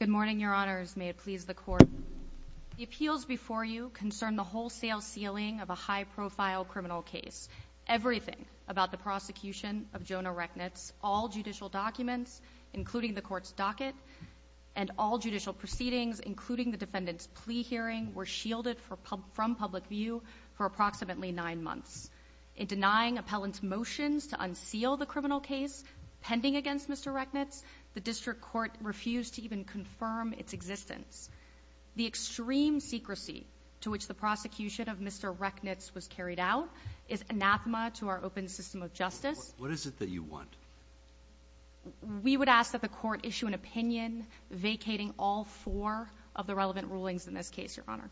Good morning, Your Honors. May it please the Court. The appeals before you concern the wholesale sealing of a high-profile criminal case. Everything about the prosecution of Jonah Rechnitz, all judicial documents, including the Court's docket, and all judicial proceedings, including the defendant's plea hearing, were shielded from public view for approximately nine months. In denying appellant's motions to unseal the criminal case pending against Mr. Rechnitz, the District Court refused to even confirm its existence. The extreme secrecy to which the prosecution of Mr. Rechnitz was carried out is anathema to our open system of justice. What is it that you want? We would ask that the Court issue an opinion vacating all four of the relevant rulings in this case, Your Honor.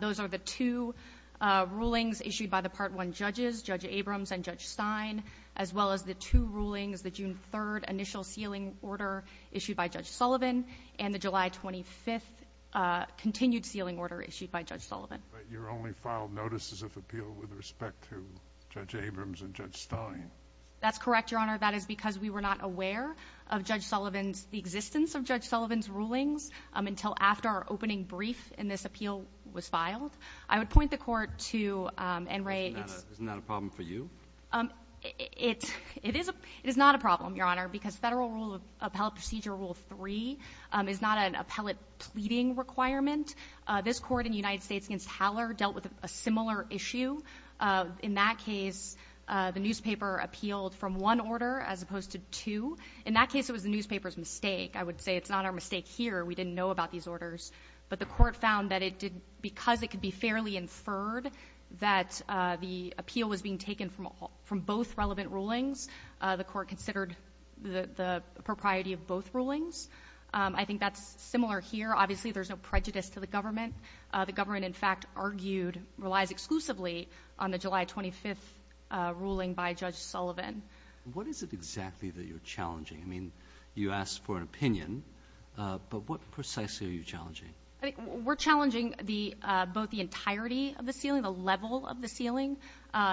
Those are the two rulings issued by the Part 1 judges, Judge Abrams and Judge Stein, as well as the two rulings, the June 3rd initial sealing order issued by Judge Sullivan and the July 25th continued sealing order issued by Judge Sullivan. But you only filed notices of appeal with respect to Judge Abrams and Judge Stein. That's correct, Your Honor. That is because we were not aware of Judge Sullivan's existence, of Judge Sullivan's rulings, until after our opening brief in this appeal was filed. I would point the Court to En Re. Isn't that a problem for you? It is not a problem, Your Honor, because Federal Rule of Appellate Procedure Rule 3 is not an appellate pleading requirement. This Court in the United States against Haller dealt with a similar issue. In that case, the newspaper appealed from one order as opposed to two. In that case, it was the newspaper's mistake. I would say it's not our mistake here. We didn't know about these orders. But the Court found that because it could be fairly inferred that the appeal was being taken from both relevant rulings, the Court considered the propriety of both rulings. I think that's similar here. Obviously, there's no prejudice to the government. The government, in fact, argued, relies exclusively on the July 25th ruling by Judge Sullivan. What is it exactly that you're challenging? I mean, you asked for an opinion. But what precisely are you challenging? We're challenging both the entirety of the sealing, the level of the sealing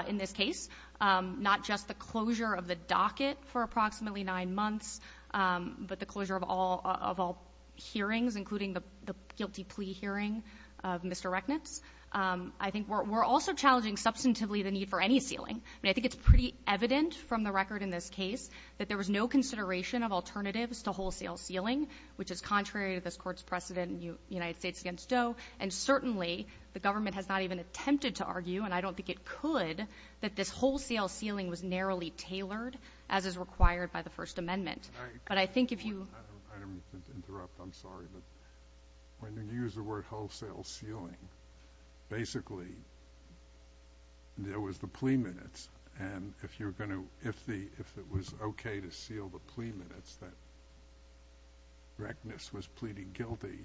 in this case, not just the closure of the docket for approximately nine months, but the closure of all hearings, including the guilty plea hearing of Mr. Rechnitz. I think we're also challenging substantively the need for any sealing. I mean, I think it's pretty evident from the record in this case that there was no consideration of alternatives to wholesale sealing, which is contrary to this Court's precedent in United States v. Doe. And certainly, the government has not even attempted to argue, and I don't think it could, that this wholesale sealing was narrowly tailored, as is required by the First Amendment. But I think if you — I didn't mean to interrupt. I'm sorry. When you use the word wholesale sealing, basically, there was the plea minutes. And if you're going to — if it was okay to seal the plea minutes that Rechnitz was pleading guilty,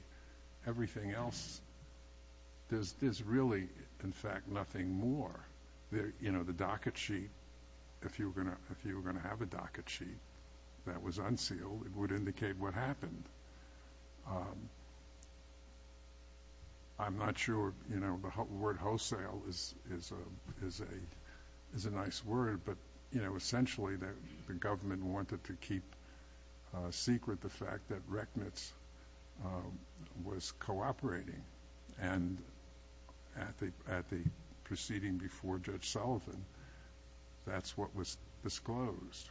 everything else, there's really, in fact, nothing more. You know, the docket sheet, if you were going to have a docket sheet that was unsealed, it would indicate what happened. I'm not sure, you know, the word wholesale is a nice word, but, you know, essentially, the government wanted to keep secret the fact that Rechnitz was cooperating. And at the proceeding before Judge Sullivan, that's what was disclosed.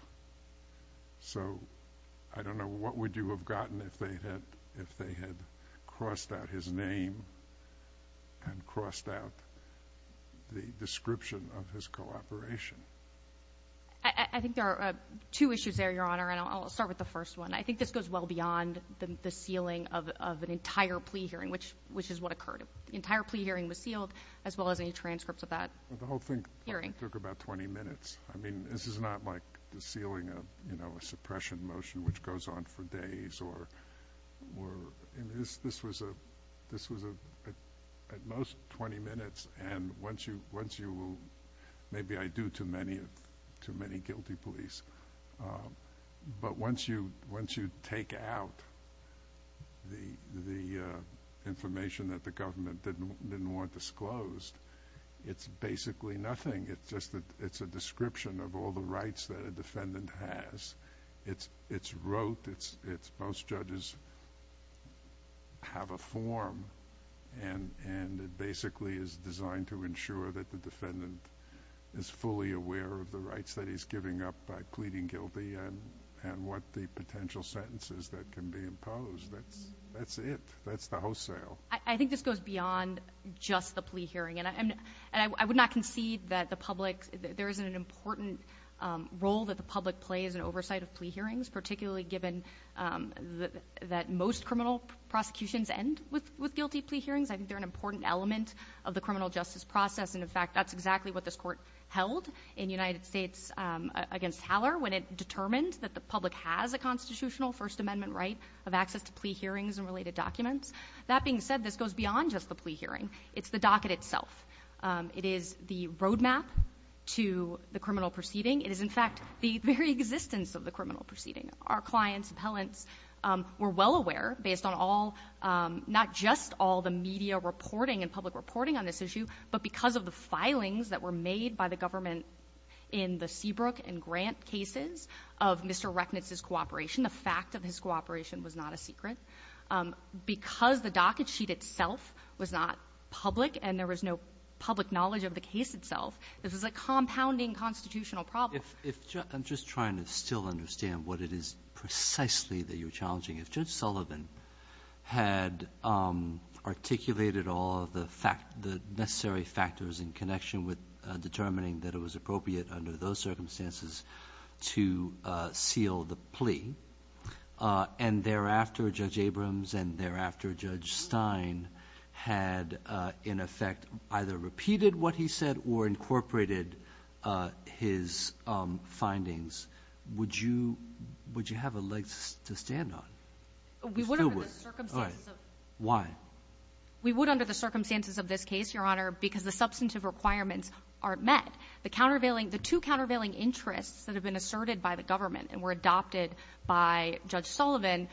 So I don't know what would you have gotten if they had crossed out his name and crossed out the description of his cooperation. I think there are two issues there, Your Honor, and I'll start with the first one. I think this goes well beyond the sealing of an entire plea hearing, which is what occurred. The entire plea hearing was sealed, as well as any transcripts of that hearing. The whole thing took about 20 minutes. I mean, this is not like the sealing of, you know, a suppression motion, which goes on for days. This was at most 20 minutes, and once you will—maybe I do too many guilty pleas. But once you take out the information that the government didn't want disclosed, it's basically nothing. It's a description of all the rights that a defendant has. It's wrote. Most judges have a form, and it basically is designed to ensure that the defendant is fully aware of the rights that he's giving up by pleading guilty and what the potential sentence is that can be imposed. That's it. That's the wholesale. I think this goes beyond just the plea hearing, and I would not concede that the public— there is an important role that the public plays in oversight of plea hearings, particularly given that most criminal prosecutions end with guilty plea hearings. I think they're an important element of the criminal justice process, and, in fact, that's exactly what this Court held in the United States against Haller when it determined that the public has a constitutional First Amendment right of access to plea hearings and related documents. That being said, this goes beyond just the plea hearing. It's the docket itself. It is the roadmap to the criminal proceeding. It is, in fact, the very existence of the criminal proceeding. Our clients, appellants, were well aware, based on all— not just all the media reporting and public reporting on this issue, but because of the filings that were made by the government in the Seabrook and Grant cases of Mr. Rechnitz's cooperation. The fact of his cooperation was not a secret. Because the docket sheet itself was not public and there was no public knowledge of the case itself, this was a compounding constitutional problem. I'm just trying to still understand what it is precisely that you're challenging. If Judge Sullivan had articulated all of the necessary factors in connection with determining that it was appropriate under those circumstances to seal the plea and thereafter Judge Abrams and thereafter Judge Stein had, in effect, either repeated what he said or incorporated his findings, would you have a leg to stand on? We would under the circumstances of— All right. Why? We would under the circumstances of this case, Your Honor, because the substantive requirements aren't met. The countervailing — the two countervailing interests that have been asserted by the government and were adopted by Judge Sullivan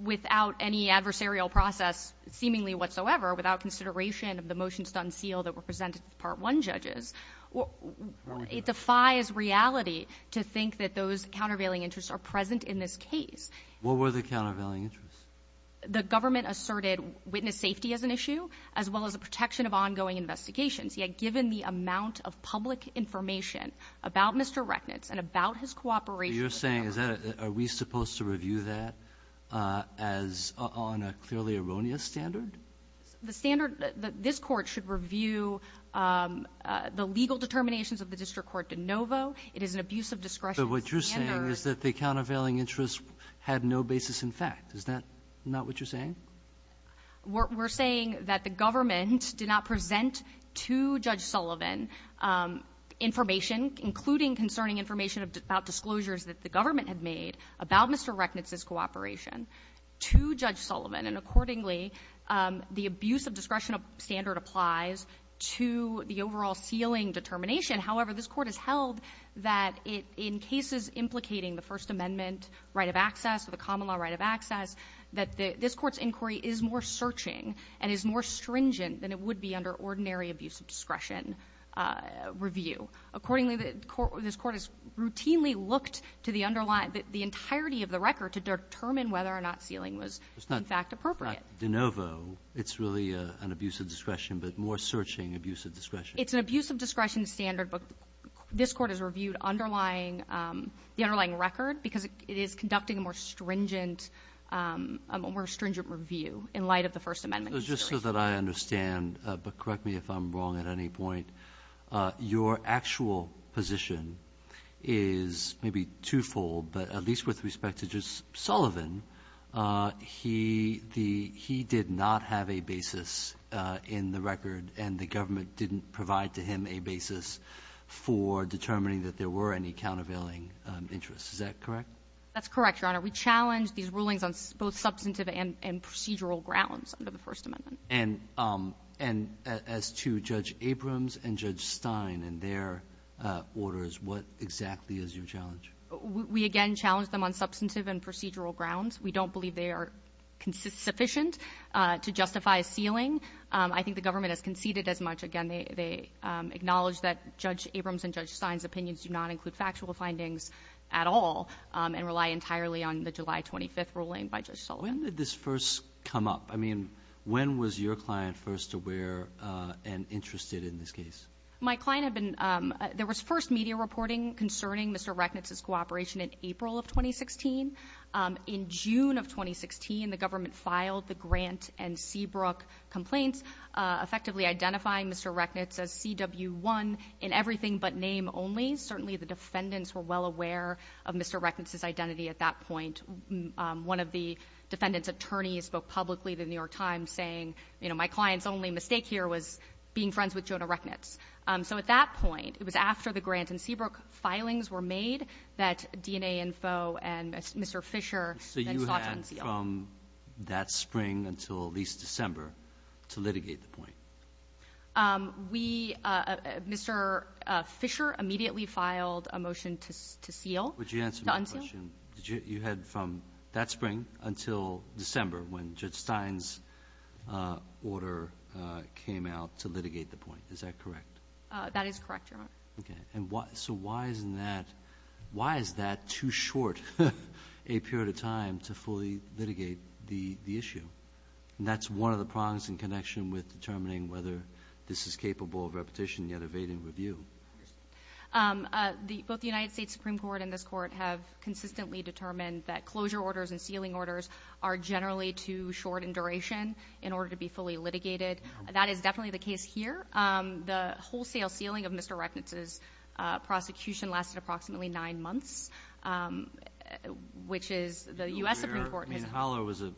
without any adversarial process seemingly whatsoever, without consideration of the motions to unseal that were presented to the Part 1 judges, it defies reality to think that those countervailing interests are present in this case. What were the countervailing interests? The government asserted witness safety as an issue as well as the protection of ongoing investigations. He had given the amount of public information about Mr. Rechnitz and about his cooperation with the government. So you're saying, is that a — are we supposed to review that as — on a clearly erroneous standard? The standard — this Court should review the legal determinations of the district court de novo. It is an abuse of discretion standard. But what you're saying is that the countervailing interests had no basis in fact. Is that not what you're saying? We're saying that the government did not present to Judge Sullivan information, including concerning information about disclosures that the government had made about Mr. Rechnitz's cooperation, to Judge Sullivan. And accordingly, the abuse of discretion standard applies to the overall sealing determination. However, this Court has held that in cases implicating the First Amendment right of access or the common law right of access, that this Court's inquiry is more searching and is more stringent than it would be under ordinary abuse of discretion review. Accordingly, this Court has routinely looked to the underlying — the entirety of the record to determine whether or not sealing was, in fact, appropriate. It's not de novo. It's really an abuse of discretion, but more searching abuse of discretion. It's an abuse of discretion standard, but this Court has reviewed underlying — the underlying record because it is conducting a more stringent — a more stringent review in light of the First Amendment consideration. So just so that I understand, but correct me if I'm wrong at any point, your actual position is maybe twofold, but at least with respect to Judge Sullivan, he did not have a basis in the record, and the government didn't provide to him a basis for determining that there were any countervailing interests. Is that correct? That's correct, Your Honor. We challenged these rulings on both substantive and procedural grounds under the First Amendment. And as to Judge Abrams and Judge Stein and their orders, what exactly is your challenge? We again challenged them on substantive and procedural grounds. We don't believe they are sufficient to justify a sealing. I think the government has conceded as much. Again, they acknowledged that Judge Abrams and Judge Stein's opinions do not include factual findings at all and rely entirely on the July 25th ruling by Judge Sullivan. When did this first come up? I mean, when was your client first aware and interested in this case? My client had been — there was first media reporting concerning Mr. Rechnitz's cooperation in April of 2016. In June of 2016, the government filed the Grant and Seabrook complaints, effectively identifying Mr. Rechnitz as CW1 in everything but name only. Certainly the defendants were well aware of Mr. Rechnitz's identity at that point. One of the defendant's attorneys spoke publicly to The New York Times saying, you know, my client's only mistake here was being friends with Jonah Rechnitz. So at that point, it was after the Grant and Seabrook filings were made that DNA Info and Mr. Fisher then sought to unseal. Did you head from that spring until at least December to litigate the point? We — Mr. Fisher immediately filed a motion to seal. Would you answer my question? To unseal. Did you head from that spring until December when Judge Stein's order came out to litigate the point? Is that correct? That is correct, Your Honor. Okay. And so why is that too short a period of time to fully litigate the issue? And that's one of the prongs in connection with determining whether this is capable of repetition yet evading review. Both the United States Supreme Court and this court have consistently determined that closure orders and sealing orders are generally too short in duration in order to be fully litigated. That is definitely the case here. The wholesale sealing of Mr. Recknitz's prosecution lasted approximately nine months, which is — the U.S. Supreme Court has — I mean, Haller was a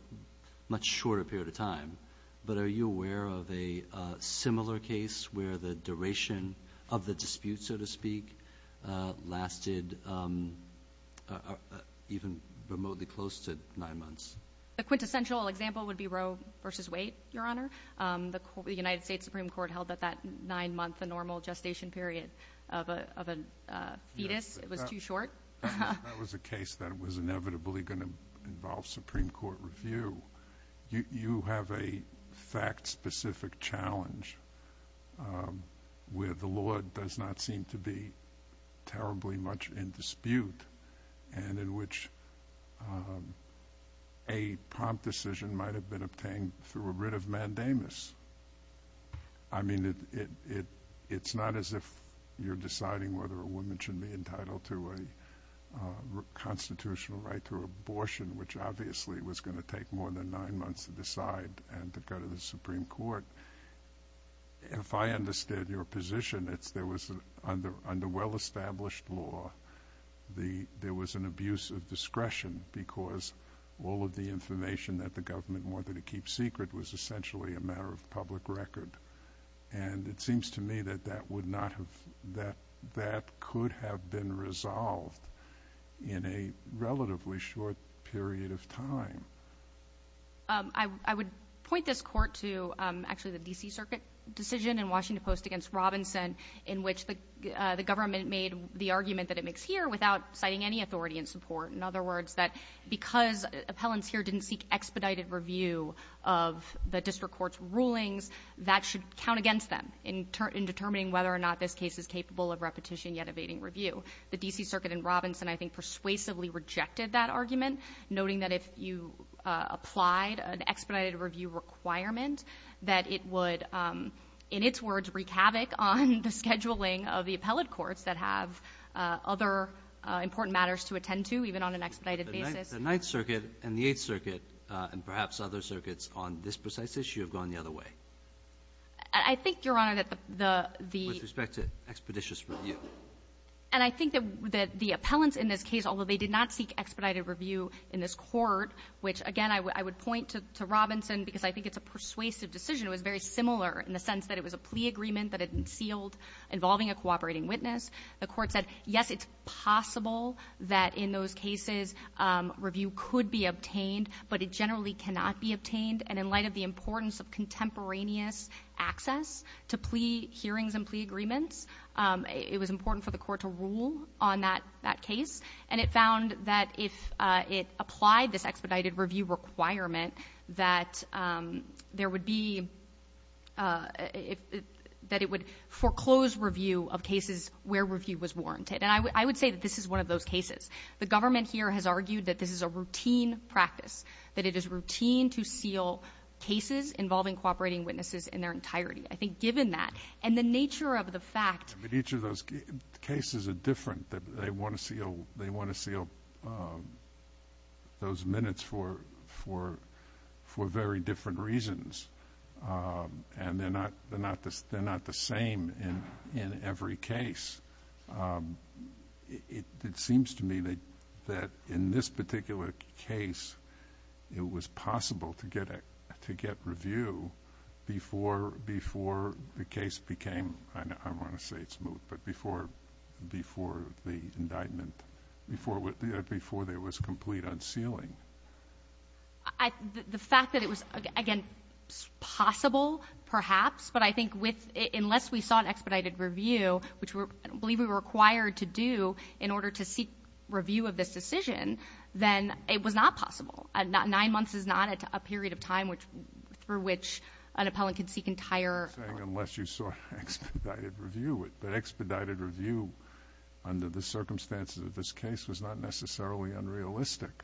much shorter period of time. But are you aware of a similar case where the duration of the dispute, so to speak, lasted even remotely close to nine months? A quintessential example would be Roe v. Waite, Your Honor. The United States Supreme Court held that that nine-month, the normal gestation period of a fetus was too short. That was a case that was inevitably going to involve Supreme Court review. You have a fact-specific challenge where the law does not seem to be terribly much in dispute and in which a prompt decision might have been obtained through a writ of mandamus. I mean, it's not as if you're deciding whether a woman should be entitled to a constitutional right to abortion, which obviously was going to take more than nine months to decide and to go to the Supreme Court. If I understand your position, it's there was — under well-established law, there was an abuse of discretion because all of the information that the government wanted to keep secret was essentially a matter of public record. And it seems to me that that would not have — that that could have been resolved in a relatively short period of time. I would point this Court to actually the D.C. Circuit decision in Washington Post against Robinson in which the government made the argument that it makes here without citing any authority in support. In other words, that because appellants here didn't seek expedited review of the district court's rulings, that should count against them in determining whether or not this case is capable of repetition yet evading review. The D.C. Circuit in Robinson, I think, persuasively rejected that argument, noting that if you applied an expedited review requirement, that it would, in its words, wreak havoc on the scheduling of the appellate courts that have other important matters to attend to, even on an expedited basis. The Ninth Circuit and the Eighth Circuit and perhaps other circuits on this precise issue have gone the other way. I think, Your Honor, that the — With respect to expeditious review. And I think that the appellants in this case, although they did not seek expedited review in this court, which, again, I would point to Robinson because I think it's a persuasive decision. It was very similar in the sense that it was a plea agreement that had been sealed involving a cooperating witness. The court said, yes, it's possible that in those cases review could be obtained, but it generally cannot be obtained. And in light of the importance of contemporaneous access to plea hearings and plea agreements, it was important for the court to rule on that case. And it found that if it applied this expedited review requirement, that there would be — that it would foreclose review of cases where review was warranted. And I would say that this is one of those cases. The government here has argued that this is a routine practice, that it is routine to seal cases involving cooperating witnesses in their entirety. I think given that and the nature of the fact — they want to seal those minutes for very different reasons. And they're not the same in every case. It seems to me that in this particular case, it was possible to get review before the before the indictment, before there was complete unsealing. The fact that it was, again, possible perhaps, but I think unless we saw an expedited review, which I believe we were required to do in order to seek review of this decision, then it was not possible. Nine months is not a period of time through which an appellant can seek entire — I'm not saying unless you saw expedited review. But expedited review under the circumstances of this case was not necessarily unrealistic.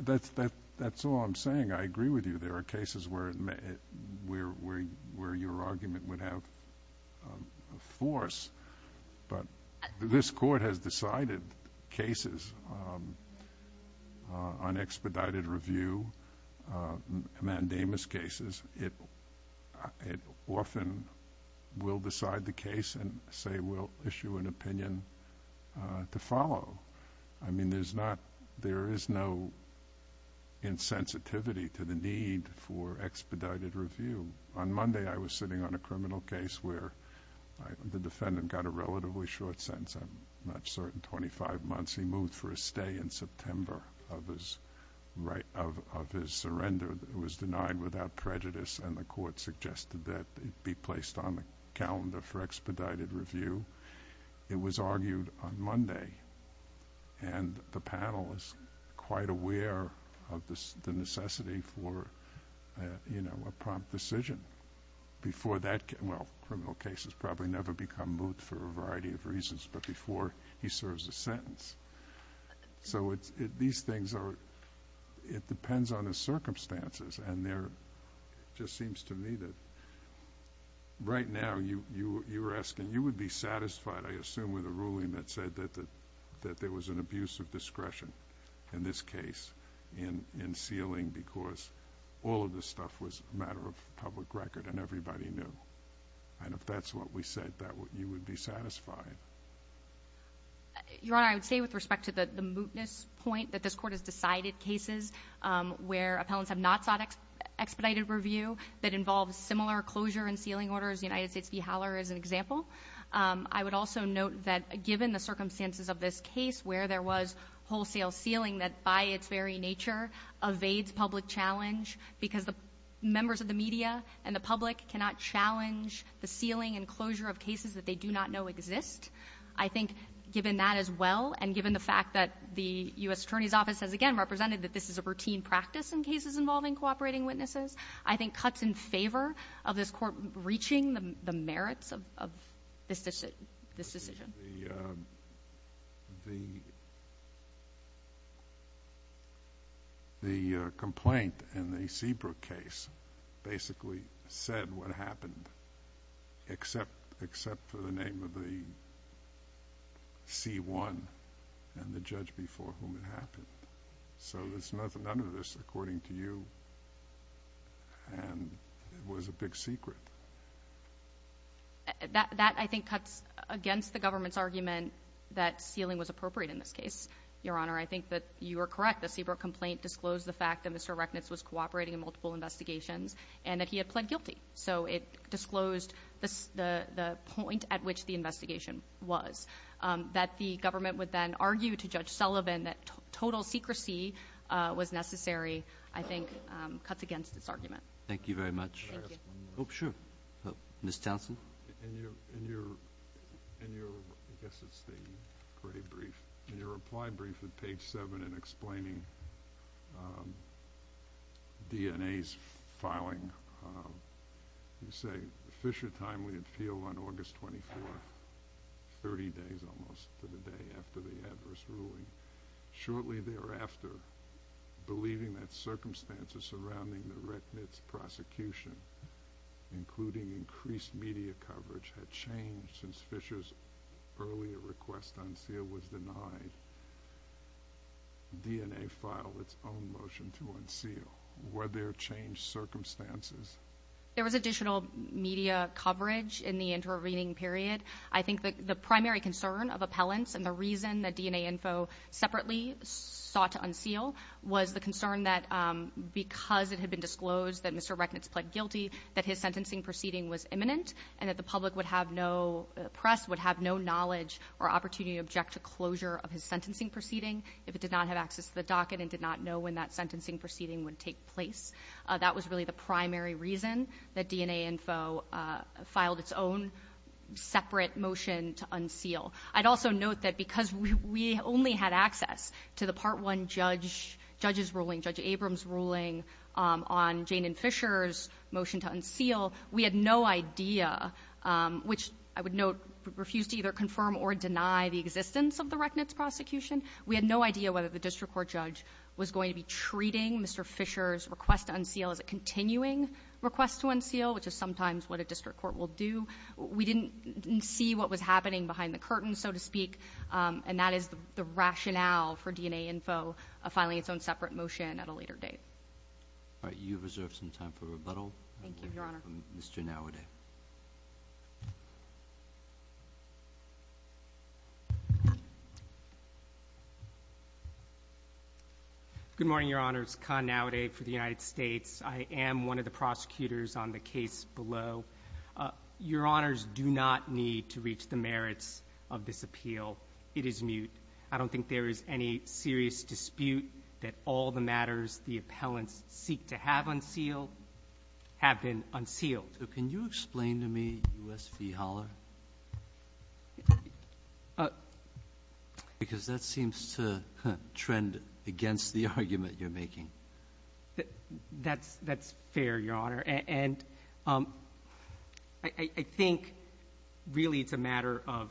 That's all I'm saying. I agree with you. There are cases where your argument would have a force. But this court has decided cases on expedited review, mandamus cases. It often will decide the case and say we'll issue an opinion to follow. I mean, there's not — there is no insensitivity to the need for expedited review. On Monday, I was sitting on a criminal case where the defendant got a relatively short sentence. I'm not certain, 25 months. He moved for a stay in September of his surrender. It was denied without prejudice, and the court suggested that it be placed on the calendar for expedited review. It was argued on Monday, and the panel is quite aware of the necessity for a prompt decision. Before that — well, criminal cases probably never become moot for a variety of reasons, but before he serves a sentence. So these things are — it depends on the circumstances. And there just seems to me that right now, you were asking, you would be satisfied, I assume, with a ruling that said that there was an abuse of discretion in this case in sealing because all of this stuff was a matter of public record and everybody knew. And if that's what we said, you would be satisfied? Your Honor, I would say with respect to the mootness point that this court has decided cases where appellants have not sought expedited review that involves similar closure and sealing orders, the United States v. Haller is an example. I would also note that given the circumstances of this case where there was wholesale sealing that by its very nature evades public challenge because the members of the media and the public cannot challenge the sealing and closure of cases that they do not know exist. I think given that as well and given the fact that the U.S. Attorney's Office has, again, represented that this is a routine practice in cases involving cooperating witnesses, I think cuts in favor of this Court reaching the merits of this decision. The complaint in the Seabrook case basically said what happened, except for the name of the C-1 and the judge before whom it happened. So there's none of this, according to you, and it was a big secret. That, I think, cuts against the government's argument that sealing was appropriate in this case. Your Honor, I think that you are correct. The Seabrook complaint disclosed the fact that Mr. Reknitz was cooperating in multiple investigations and that he had pled guilty. So it disclosed the point at which the investigation was. That the government would then argue to Judge Sullivan that total secrecy was necessary, I think cuts against this argument. Thank you very much. Can I ask one more? Oh, sure. Ms. Townsend? In your, I guess it's the gray brief, in your reply brief at page 7 in explaining DNA's filing, you say, Fisher timely and feel on August 24, 30 days almost to the day after the adverse ruling. Shortly thereafter, believing that circumstances surrounding the Reknitz prosecution, including increased media coverage, had changed since Fisher's earlier request to unseal was denied, DNA filed its own motion to unseal. Were there changed circumstances? There was additional media coverage in the intervening period. I think that the primary concern of appellants and the reason that DNA info separately sought to unseal was the concern that because it had been disclosed that Mr. Reknitz pled guilty, that his sentencing proceeding was imminent and that the public would have no press, would have no knowledge or opportunity to object to closure of his sentencing proceeding if it did not have access to the docket and did not know when that sentencing proceeding would take place. That was really the primary reason that DNA info filed its own separate motion to unseal. I'd also note that because we only had access to the Part 1 judge's ruling, Judge Abrams' ruling on Jane and Fisher's motion to unseal, we had no idea, which I would note refused to either confirm or deny the existence of the Reknitz prosecution. We had no idea whether the district court judge was going to be treating Mr. Fisher's request to unseal as a continuing request to unseal, which is sometimes what a district court will do. We didn't see what was happening behind the curtain, so to speak, and that is the rationale for DNA info filing its own separate motion at a later date. All right. You have reserved some time for rebuttal. Thank you, Your Honor. Mr. Nowaday. Good morning, Your Honor. It's Khan Nowaday for the United States. I am one of the prosecutors on the case below. Your Honors do not need to reach the merits of this appeal. It is mute. I don't think there is any serious dispute that all the matters the appellants seek to have unsealed have been unsealed. So can you explain to me U.S. fee holler? Because that seems to trend against the argument you're making. That's fair, Your Honor. And I think really it's a matter of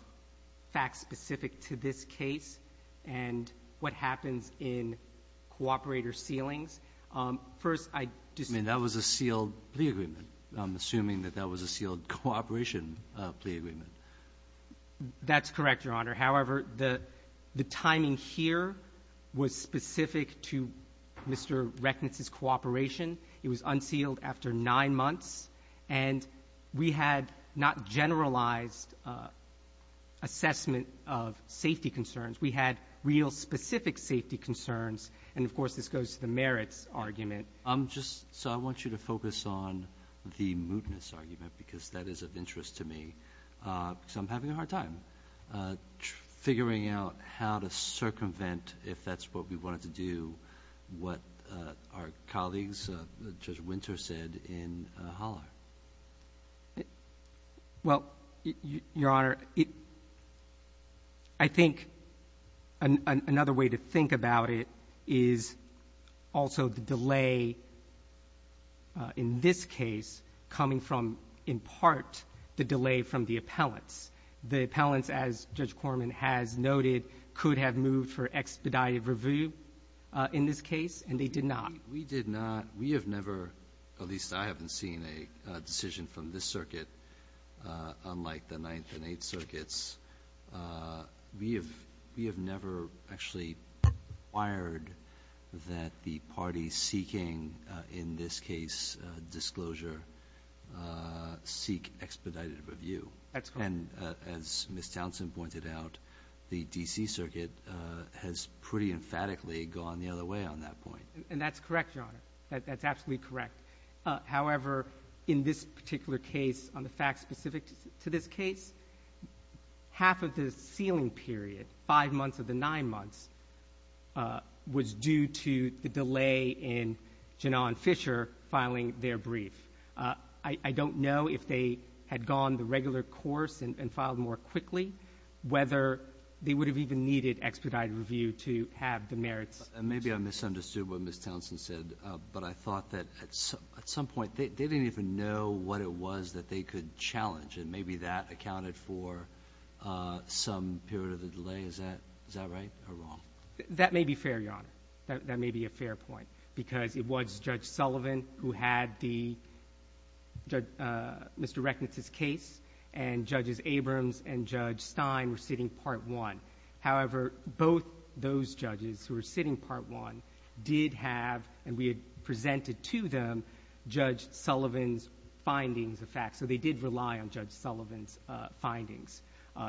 facts specific to this case and what happens in cooperator sealings. First, I just ---- I mean, that was a sealed plea agreement. I'm assuming that that was a sealed cooperation plea agreement. That's correct, Your Honor. However, the timing here was specific to Mr. Reckness's cooperation. It was unsealed after nine months. And we had not generalized assessment of safety concerns. We had real specific safety concerns. And, of course, this goes to the merits argument. So I want you to focus on the mootness argument because that is of interest to me because I'm having a hard time figuring out how to circumvent, if that's what we wanted to do, what our colleagues, Judge Winter, said in holler. Well, Your Honor, I think another way to think about it is also the delay in this case coming from, in part, the delay from the appellants. The appellants, as Judge Corman has noted, could have moved for expedited review in this case, and they did not. We did not. We have never, at least I haven't seen a decision from this circuit, unlike the Ninth and Eighth Circuits, we have never actually required that the parties seeking, in this case, disclosure, seek expedited review. That's correct. And as Ms. Townsend pointed out, the D.C. Circuit has pretty emphatically gone the other way on that point. And that's correct, Your Honor. That's absolutely correct. However, in this particular case, on the facts specific to this case, half of the sealing period, five months of the nine months, was due to the delay in Janan Fisher filing their brief. I don't know if they had gone the regular course and filed more quickly, whether they would have even needed expedited review to have the merits. Maybe I misunderstood what Ms. Townsend said, but I thought that at some point they didn't even know what it was that they could challenge, and maybe that accounted for some period of the delay. That may be fair, Your Honor. That may be a fair point, because it was Judge Sullivan who had the Mr. Reckness's case, and Judges Abrams and Judge Stein were sitting Part I. However, both those judges who were sitting Part I did have, and we had presented to them, Judge Sullivan's findings of facts, so they did rely on Judge Sullivan's findings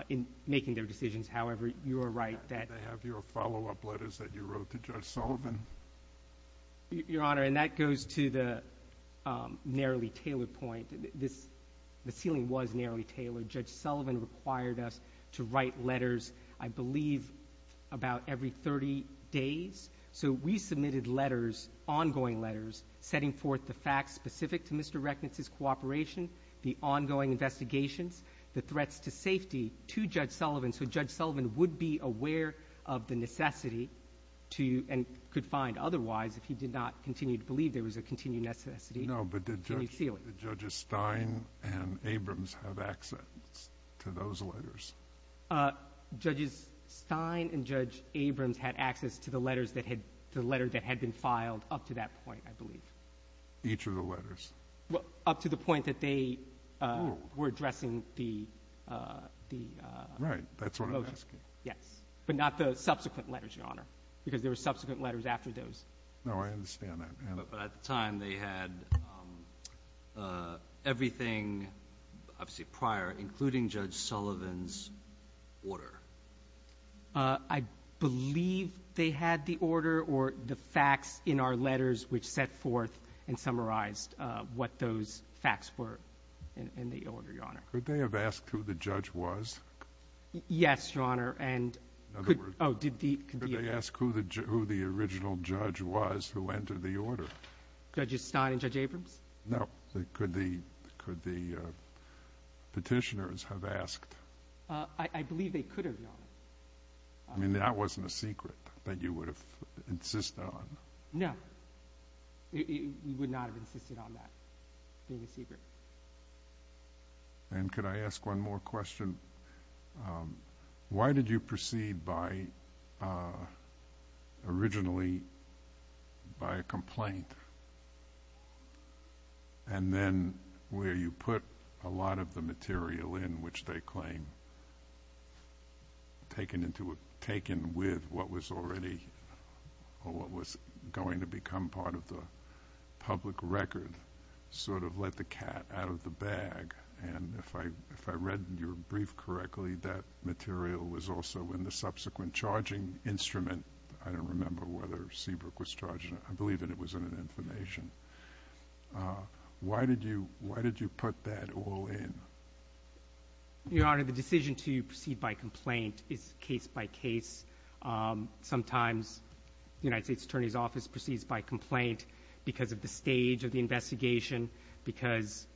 in making their decisions. However, you are right that they have your follow-up letters that you wrote to Judge Sullivan. Your Honor, and that goes to the narrowly tailored point. The sealing was narrowly tailored. Judge Sullivan required us to write letters, I believe, about every 30 days. So we submitted letters, ongoing letters, setting forth the facts specific to Mr. Reckness's cooperation, the ongoing investigations, the threats to safety to Judge Sullivan so Judge Sullivan would be aware of the necessity to, and could find otherwise, if he did not continue to believe there was a continued necessity to seal it. No, but did Judges Stein and Abrams have access to those letters? Judges Stein and Judge Abrams had access to the letters that had been filed up to that point, I believe. Each of the letters? Well, up to the point that they were addressing the… Right, that's what I'm asking. Yes, but not the subsequent letters, Your Honor, because there were subsequent letters after those. No, I understand that. But at the time, they had everything, obviously, prior, including Judge Sullivan's order. I believe they had the order or the facts in our letters, which set forth and summarized what those facts were in the order, Your Honor. Could they have asked who the judge was? Yes, Your Honor, and… In other words, could they ask who the original judge was who entered the order? Judges Stein and Judge Abrams? No. Could the petitioners have asked? I believe they could have, Your Honor. I mean, that wasn't a secret that you would have insisted on. No, we would not have insisted on that being a secret. And could I ask one more question? Why did you proceed by, originally, by a complaint? And then where you put a lot of the material in, which they claim taken with what was already, or what was going to become part of the public record, sort of let the cat out of the bag. And if I read your brief correctly, that material was also in the subsequent charging instrument. I don't remember whether Seabrook was charging it. I believe that it was in an information. Why did you put that all in? Your Honor, the decision to proceed by complaint is case by case. Sometimes the United States Attorney's Office proceeds by complaint because of the stage of the investigation, because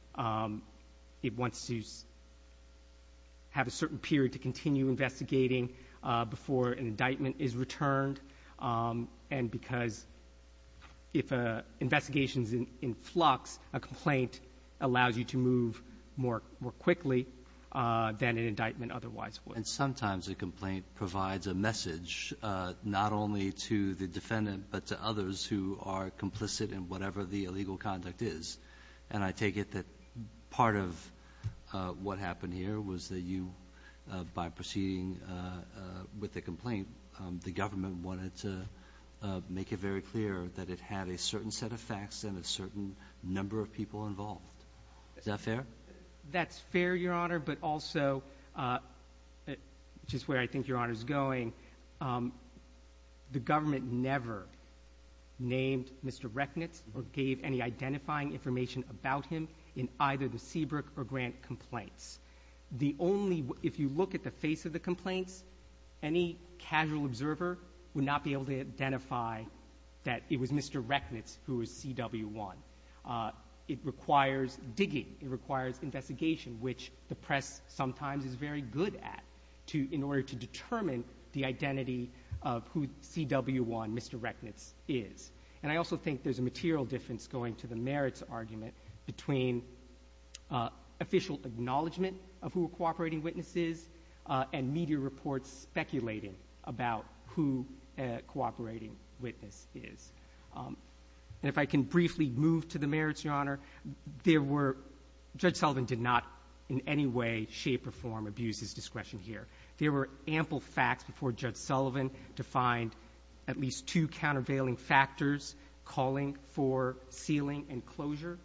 it wants to have a certain period to continue investigating before an indictment is returned, and because if an investigation is in flux, a complaint allows you to move more quickly than an indictment otherwise would. And sometimes a complaint provides a message not only to the defendant but to others who are complicit in whatever the illegal conduct is. And I take it that part of what happened here was that you, by proceeding with the complaint, the government wanted to make it very clear that it had a certain set of facts and a certain number of people involved. Is that fair? That's fair, Your Honor, but also, just where I think Your Honor is going, the government never named Mr. Rechnitz or gave any identifying information about him in either the Seabrook or Grant complaints. The only, if you look at the face of the complaints, any casual observer would not be able to identify that it was Mr. Rechnitz who was CW1. It requires digging. It requires investigation, which the press sometimes is very good at, in order to determine the identity of who CW1, Mr. Rechnitz, is. And I also think there's a material difference going to the merits argument between official acknowledgment of who a cooperating witness is and media reports speculating about who a cooperating witness is. And if I can briefly move to the merits, Your Honor, there were, Judge Sullivan did not in any way, shape, or form abuse his discretion here. There were ample facts before Judge Sullivan to find at least two countervailing factors calling for sealing and closure.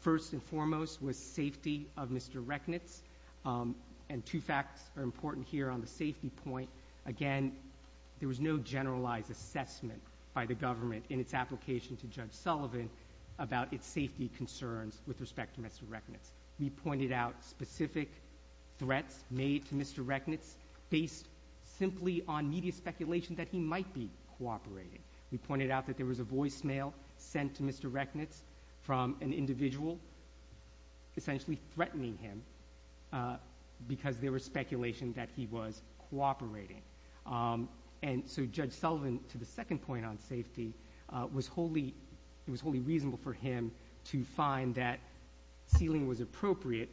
First and foremost was safety of Mr. Rechnitz, and two facts are important here on the safety point. Again, there was no generalized assessment by the government in its application to Judge Sullivan about its safety concerns with respect to Mr. Rechnitz. We pointed out specific threats made to Mr. Rechnitz based simply on media speculation that he might be cooperating. We pointed out that there was a voicemail sent to Mr. Rechnitz from an individual, essentially threatening him because there was speculation that he was cooperating. And so Judge Sullivan, to the second point on safety, it was wholly reasonable for him to find that sealing was appropriate.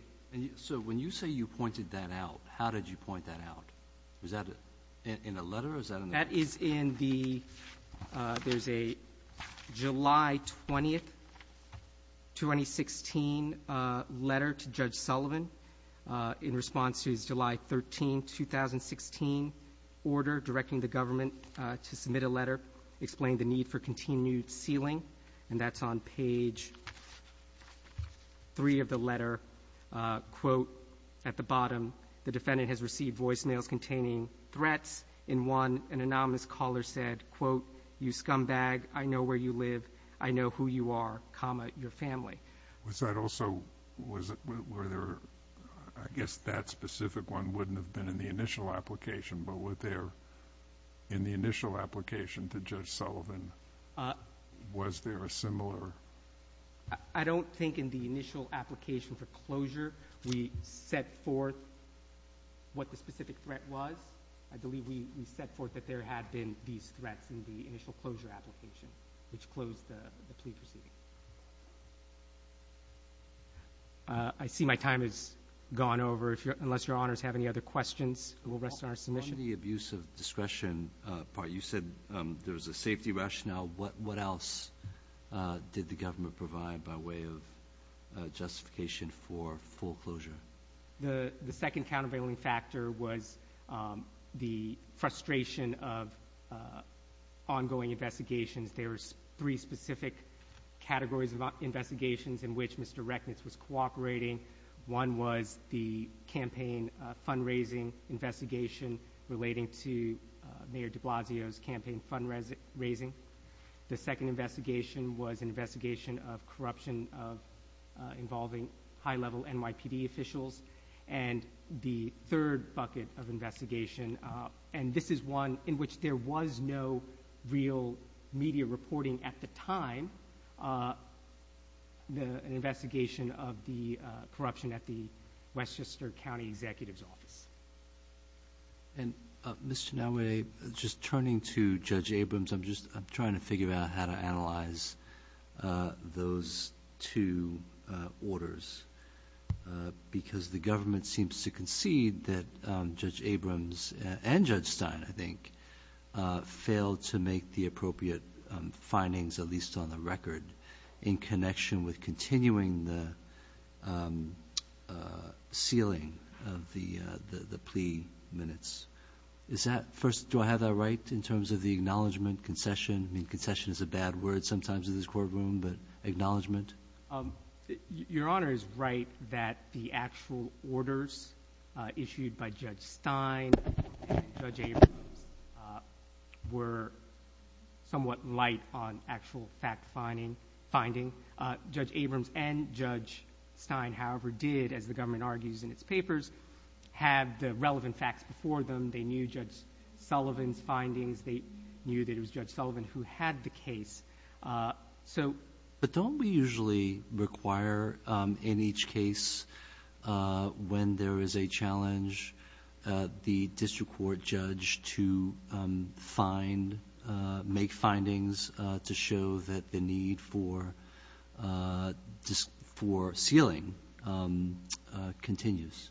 So when you say you pointed that out, how did you point that out? Was that in a letter or was that in a letter? That is in the – there's a July 20, 2016 letter to Judge Sullivan in response to his July 13, 2016 order directing the government to submit a letter explaining the need for continued sealing, and that's on page 3 of the letter. Quote, at the bottom, the defendant has received voicemails containing threats. In one, an anonymous caller said, quote, you scumbag, I know where you live, I know who you are, comma, your family. Was that also – was it – were there – I guess that specific one wouldn't have been in the initial application, but were there in the initial application to Judge Sullivan, was there a similar – I don't think in the initial application for closure we set forth what the specific threat was. I believe we set forth that there had been these threats in the initial closure application, which closed the plea proceeding. I see my time has gone over, unless Your Honors have any other questions. We'll rest on our submission. In the abuse of discretion part, you said there was a safety rationale. What else did the government provide by way of justification for full closure? The second countervailing factor was the frustration of ongoing investigations. There were three specific categories of investigations in which Mr. Recknitz was cooperating. One was the campaign fundraising investigation relating to Mayor de Blasio's campaign fundraising. The second investigation was an investigation of corruption involving high-level NYPD officials. And the third bucket of investigation, and this is one in which there was no real media reporting at the time, was an investigation of the corruption at the Westchester County Executive's office. Ms. Chinoue, just turning to Judge Abrams, I'm trying to figure out how to analyze those two orders because the government seems to concede that Judge Abrams and Judge Stein, I think, failed to make the appropriate findings, at least on the record, in connection with continuing the sealing of the plea minutes. First, do I have that right in terms of the acknowledgment, concession? I mean, concession is a bad word sometimes in this courtroom, but acknowledgment? Your Honor is right that the actual orders issued by Judge Stein and Judge Abrams were somewhat light on actual fact-finding. Judge Abrams and Judge Stein, however, did, as the government argues in its papers, have the relevant facts before them. They knew Judge Sullivan's findings. They knew that it was Judge Sullivan who had the case. But don't we usually require in each case, when there is a challenge, the district court judge to make findings to show that the need for sealing continues?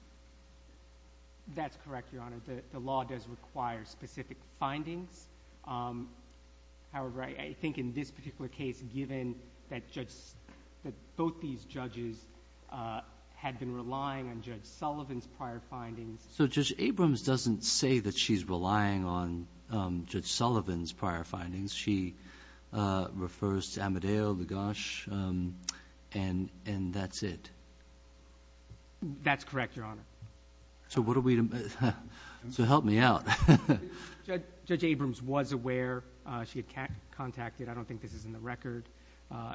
That's correct, Your Honor. The law does require specific findings. However, I think in this particular case, given that both these judges had been relying on Judge Sullivan's prior findings. So Judge Abrams doesn't say that she's relying on Judge Sullivan's prior findings. She refers to Amedeo, Lagash, and that's it. That's correct, Your Honor. So what do we—so help me out. Judge Abrams was aware. She had contacted—I don't think this is in the record.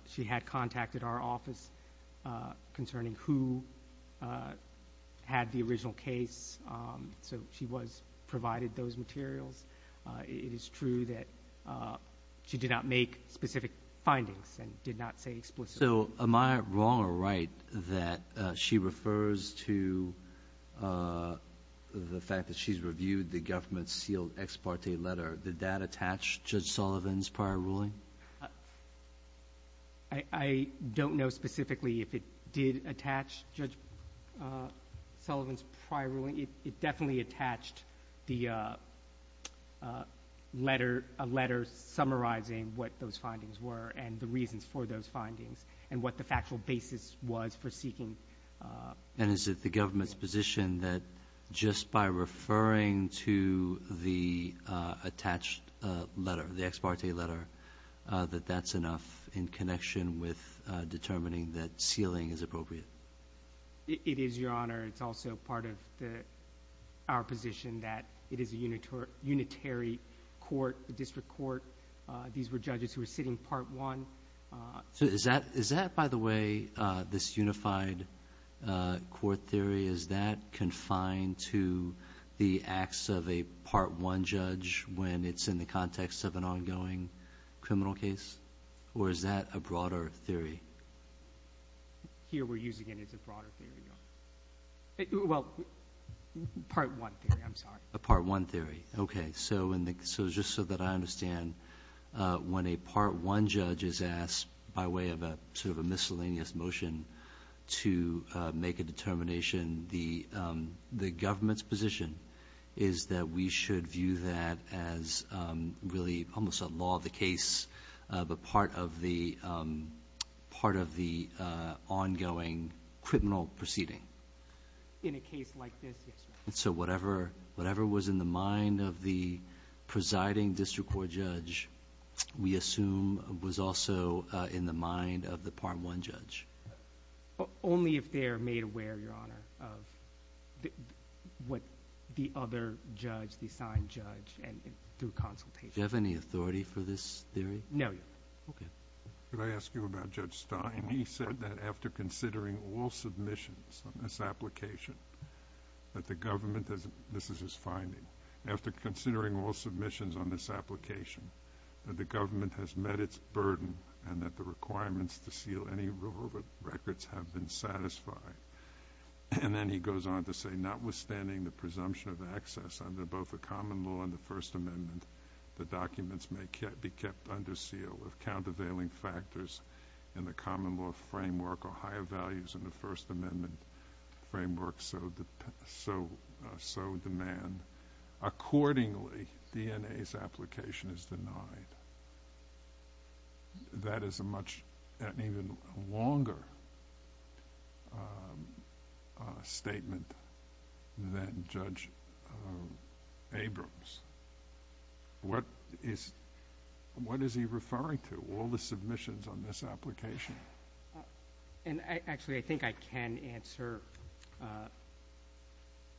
She had contacted our office concerning who had the original case. So she was provided those materials. It is true that she did not make specific findings and did not say explicitly. So am I wrong or right that she refers to the fact that she's reviewed the government-sealed ex parte letter? Did that attach Judge Sullivan's prior ruling? I don't know specifically if it did attach Judge Sullivan's prior ruling. It definitely attached the letter summarizing what those findings were and the reasons for those findings and what the factual basis was for seeking. And is it the government's position that just by referring to the attached letter, the ex parte letter, that that's enough in connection with determining that sealing is appropriate? It is, Your Honor. It's also part of our position that it is a unitary court, a district court. These were judges who were sitting part one. So is that, by the way, this unified court theory, is that confined to the acts of a part one judge when it's in the context of an ongoing criminal case? Or is that a broader theory? Here we're using it as a broader theory, Your Honor. Well, part one theory, I'm sorry. A part one theory. Okay. So just so that I understand, when a part one judge is asked by way of sort of a miscellaneous motion to make a determination, the government's position is that we should view that as really almost a law of the case, but part of the ongoing criminal proceeding? In a case like this, yes, Your Honor. So whatever was in the mind of the presiding district court judge, we assume was also in the mind of the part one judge? Only if they are made aware, Your Honor, of what the other judge, the assigned judge, and through consultation. Do you have any authority for this theory? No, Your Honor. Okay. Could I ask you about Judge Stein? He said that after considering all submissions on this application, that the government, this is his finding, after considering all submissions on this application, that the government has met its burden and that the requirements to seal any relevant records have been satisfied. And then he goes on to say, notwithstanding the presumption of access under both the common law and the First Amendment, the documents may be kept under seal if countervailing factors in the common law framework or higher values in the First Amendment framework so demand. Accordingly, DNA's application is denied. That is a much, an even longer statement than Judge Abrams. What is he referring to, all the submissions on this application? And actually, I think I can answer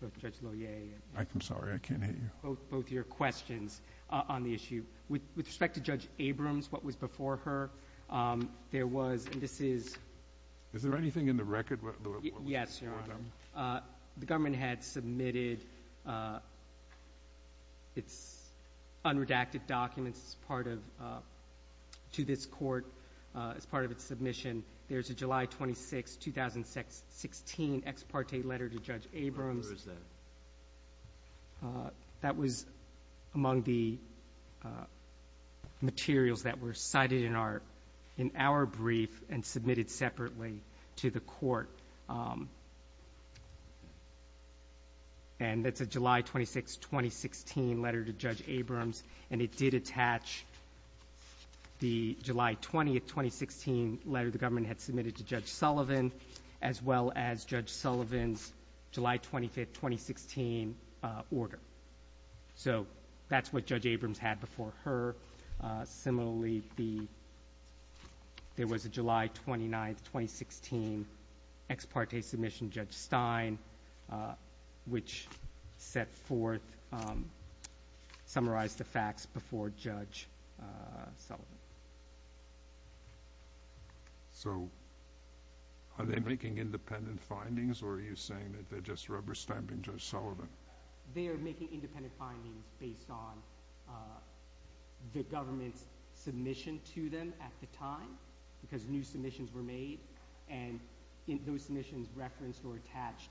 both Judge Loyer and both your questions on the issue. With respect to Judge Abrams, what was before her, there was, and this is Is there anything in the record? Yes, Your Honor. The government had submitted its unredacted documents as part of, to this court as part of its submission. There's a July 26, 2016, ex parte letter to Judge Abrams. Where is that? That was among the materials that were cited in our brief and submitted separately to the court. And that's a July 26, 2016 letter to Judge Abrams. And it did attach the July 20, 2016 letter the government had submitted to Judge Sullivan as well as Judge Sullivan's July 25, 2016 order. So that's what Judge Abrams had before her. Similarly, there was a July 29, 2016 ex parte submission to Judge Stein, which set forth, summarized the facts before Judge Sullivan. So, are they making independent findings or are you saying that they're just rubber stamping Judge Sullivan? They are making independent findings based on the government's submission to them at the time because new submissions were made and those submissions referenced or attached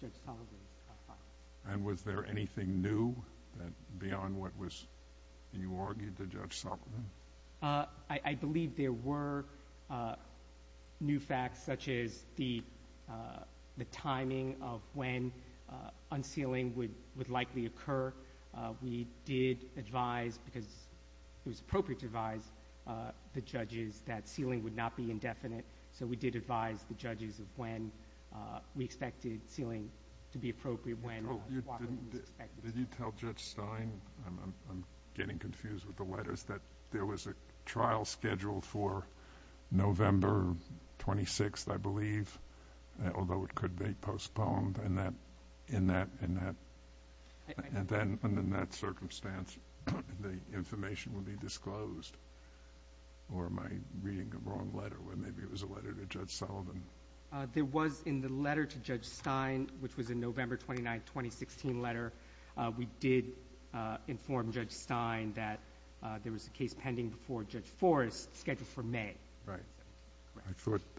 Judge Sullivan's findings. And was there anything new beyond what you argued to Judge Sullivan? I believe there were new facts such as the timing of when unsealing would likely occur. We did advise because it was appropriate to advise the judges that sealing would not be indefinite. So we did advise the judges of when we expected sealing to be appropriate, when it was expected. Did you tell Judge Stein, I'm getting confused with the letters, that there was a trial scheduled for November 26, I believe, although it could be postponed in that circumstance the information would be disclosed? Or am I reading the wrong letter where maybe it was a letter to Judge Sullivan? There was in the letter to Judge Stein, which was a November 29, 2016 letter, we did inform Judge Stein that there was a case pending before Judge Forrest scheduled for May. Right.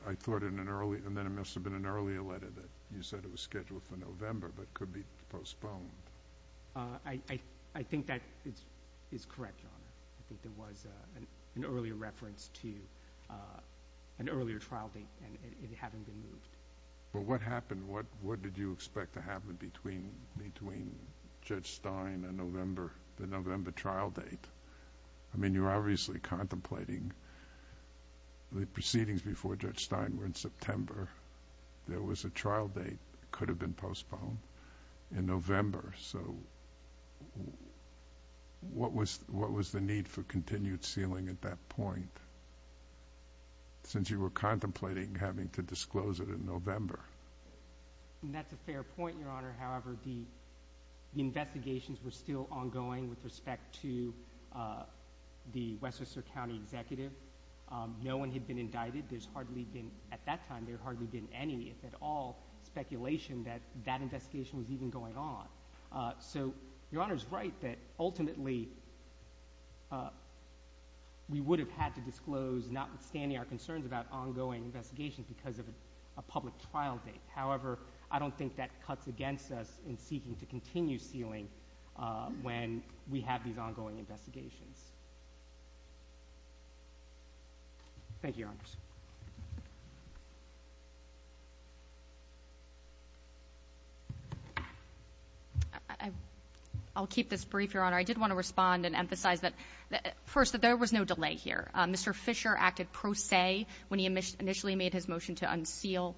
I thought in an earlier, and then it must have been an earlier letter, that you said it was scheduled for November but could be postponed. I think that is correct, Your Honor. I think there was an earlier reference to an earlier trial date and it hadn't been moved. Well, what happened? What did you expect to happen between Judge Stein and the November trial date? I mean, you're obviously contemplating the proceedings before Judge Stein were in September. There was a trial date that could have been postponed. In November, so what was the need for continued sealing at that point? Since you were contemplating having to disclose it in November. That's a fair point, Your Honor. However, the investigations were still ongoing with respect to the Westchester County Executive. No one had been indicted. At that time, there had hardly been any, if at all, speculation that that investigation was even going on. So Your Honor is right that ultimately we would have had to disclose, notwithstanding our concerns about ongoing investigations because of a public trial date. However, I don't think that cuts against us in seeking to continue sealing when we have these ongoing investigations. Thank you, Your Honors. I'll keep this brief, Your Honor. I did want to respond and emphasize first that there was no delay here. Mr. Fisher acted pro se when he initially made his motion to unseal.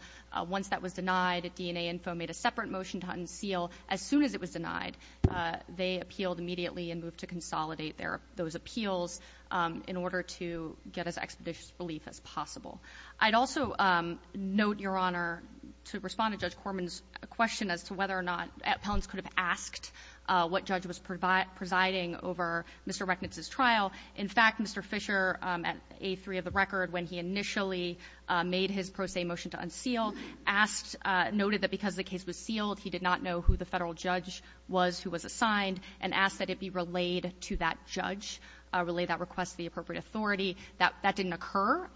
Once that was denied, DNA Info made a separate motion to unseal. As soon as it was denied, they appealed immediately and moved to consolidate those appeals in order to get as expeditious relief as possible. I'd also note, Your Honor, to respond to Judge Corman's question as to whether or not appellants could have asked what judge was presiding over Mr. Recknitz's trial. In fact, Mr. Fisher, at A3 of the record, when he initially made his pro se motion to unseal, asked, noted that because the case was sealed, he did not know who the Federal judge was who was assigned, and asked that it be relayed to that judge, relayed that request to the appropriate authority. That didn't occur.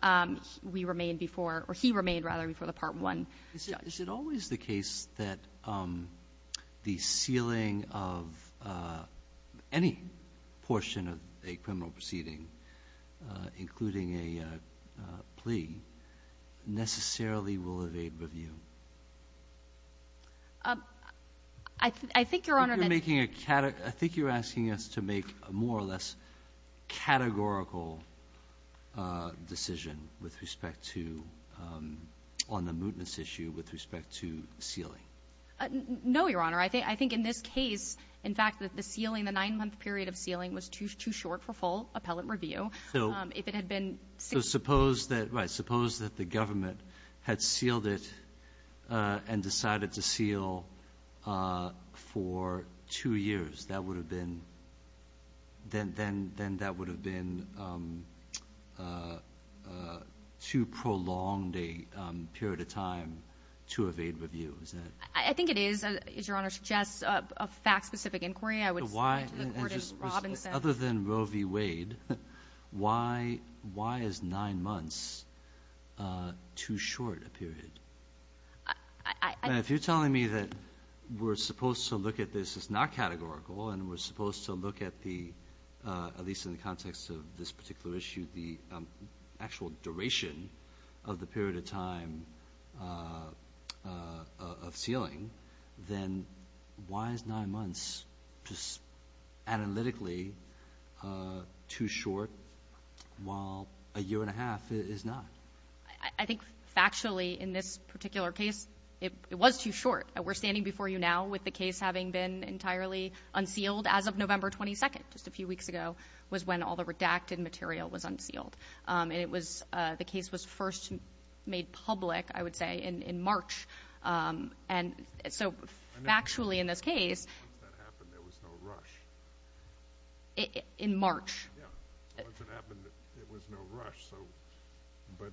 We remained before, or he remained, rather, before the Part 1 judge. Is it always the case that the sealing of any portion of a criminal proceeding, including a plea, necessarily will evade review? I think, Your Honor, that you're making a category. I think you're asking us to make a more or less categorical decision with respect to, on the mootness issue, with respect to sealing. No, Your Honor. I think in this case, in fact, that the sealing, the 9-month period of sealing was too short for full appellate review. So suppose that the government had sealed it and decided to seal for two years. Then that would have been too prolonged a period of time to evade review. I think it is, as Your Honor suggests, a fact-specific inquiry. I would speak to the court as Robin said. Other than Roe v. Wade, why is 9 months too short a period? If you're telling me that we're supposed to look at this as not categorical and we're supposed to look at the, at least in the context of this particular issue, the actual duration of the period of time of sealing, then why is 9 months just analytically too short while a year and a half is not? I think factually, in this particular case, it was too short. We're standing before you now with the case having been entirely unsealed as of November 22nd, just a few weeks ago, was when all the redacted material was unsealed. The case was first made public, I would say, in March. So factually in this case. Once that happened, there was no rush. In March. Yeah. Once it happened, there was no rush. But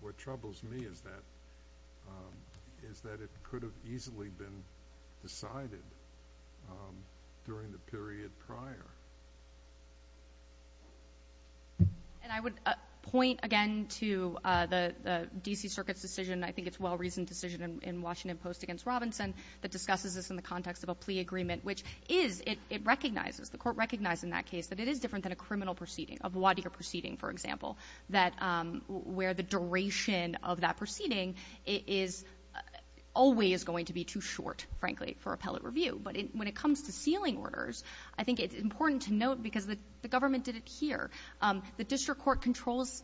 what troubles me is that it could have easily been decided during the period prior. And I would point again to the D.C. Circuit's decision, I think it's a well-reasoned decision in Washington Post against Robinson, that discusses this in the context of a plea agreement, which is, it recognizes, the Court recognized in that case, that it is different than a criminal proceeding, a voir dire proceeding, for example, that where the duration of that proceeding is always going to be too short, frankly, for appellate review. But when it comes to sealing orders, I think it's important to note, because the government did it here, the district court controls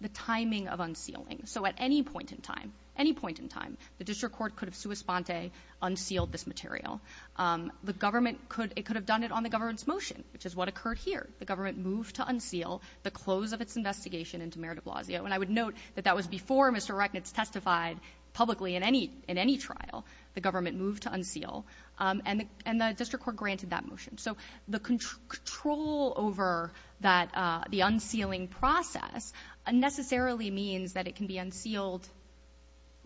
the timing of unsealing. So at any point in time, any point in time, the district court could have sua sponte unsealed this material. The government could have done it on the government's motion, which is what occurred here. The government moved to unseal the close of its investigation into Mayor de Blasio. And I would note that that was before Mr. Ereknitz testified publicly in any trial. The government moved to unseal. And the district court granted that motion. So the control over the unsealing process unnecessarily means that it can be unsealed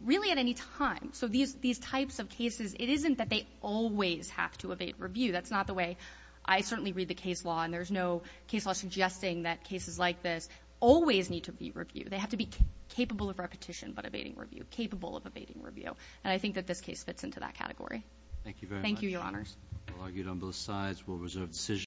really at any time. So these types of cases, it isn't that they always have to abate review. That's not the way. I certainly read the case law, and there's no case law suggesting that cases like this always need to be reviewed. They have to be capable of repetition but abating review, capable of abating review. And I think that this case fits into that category. Thank you very much. Thank you, Your Honors. We'll argue it on both sides. We'll reserve decision.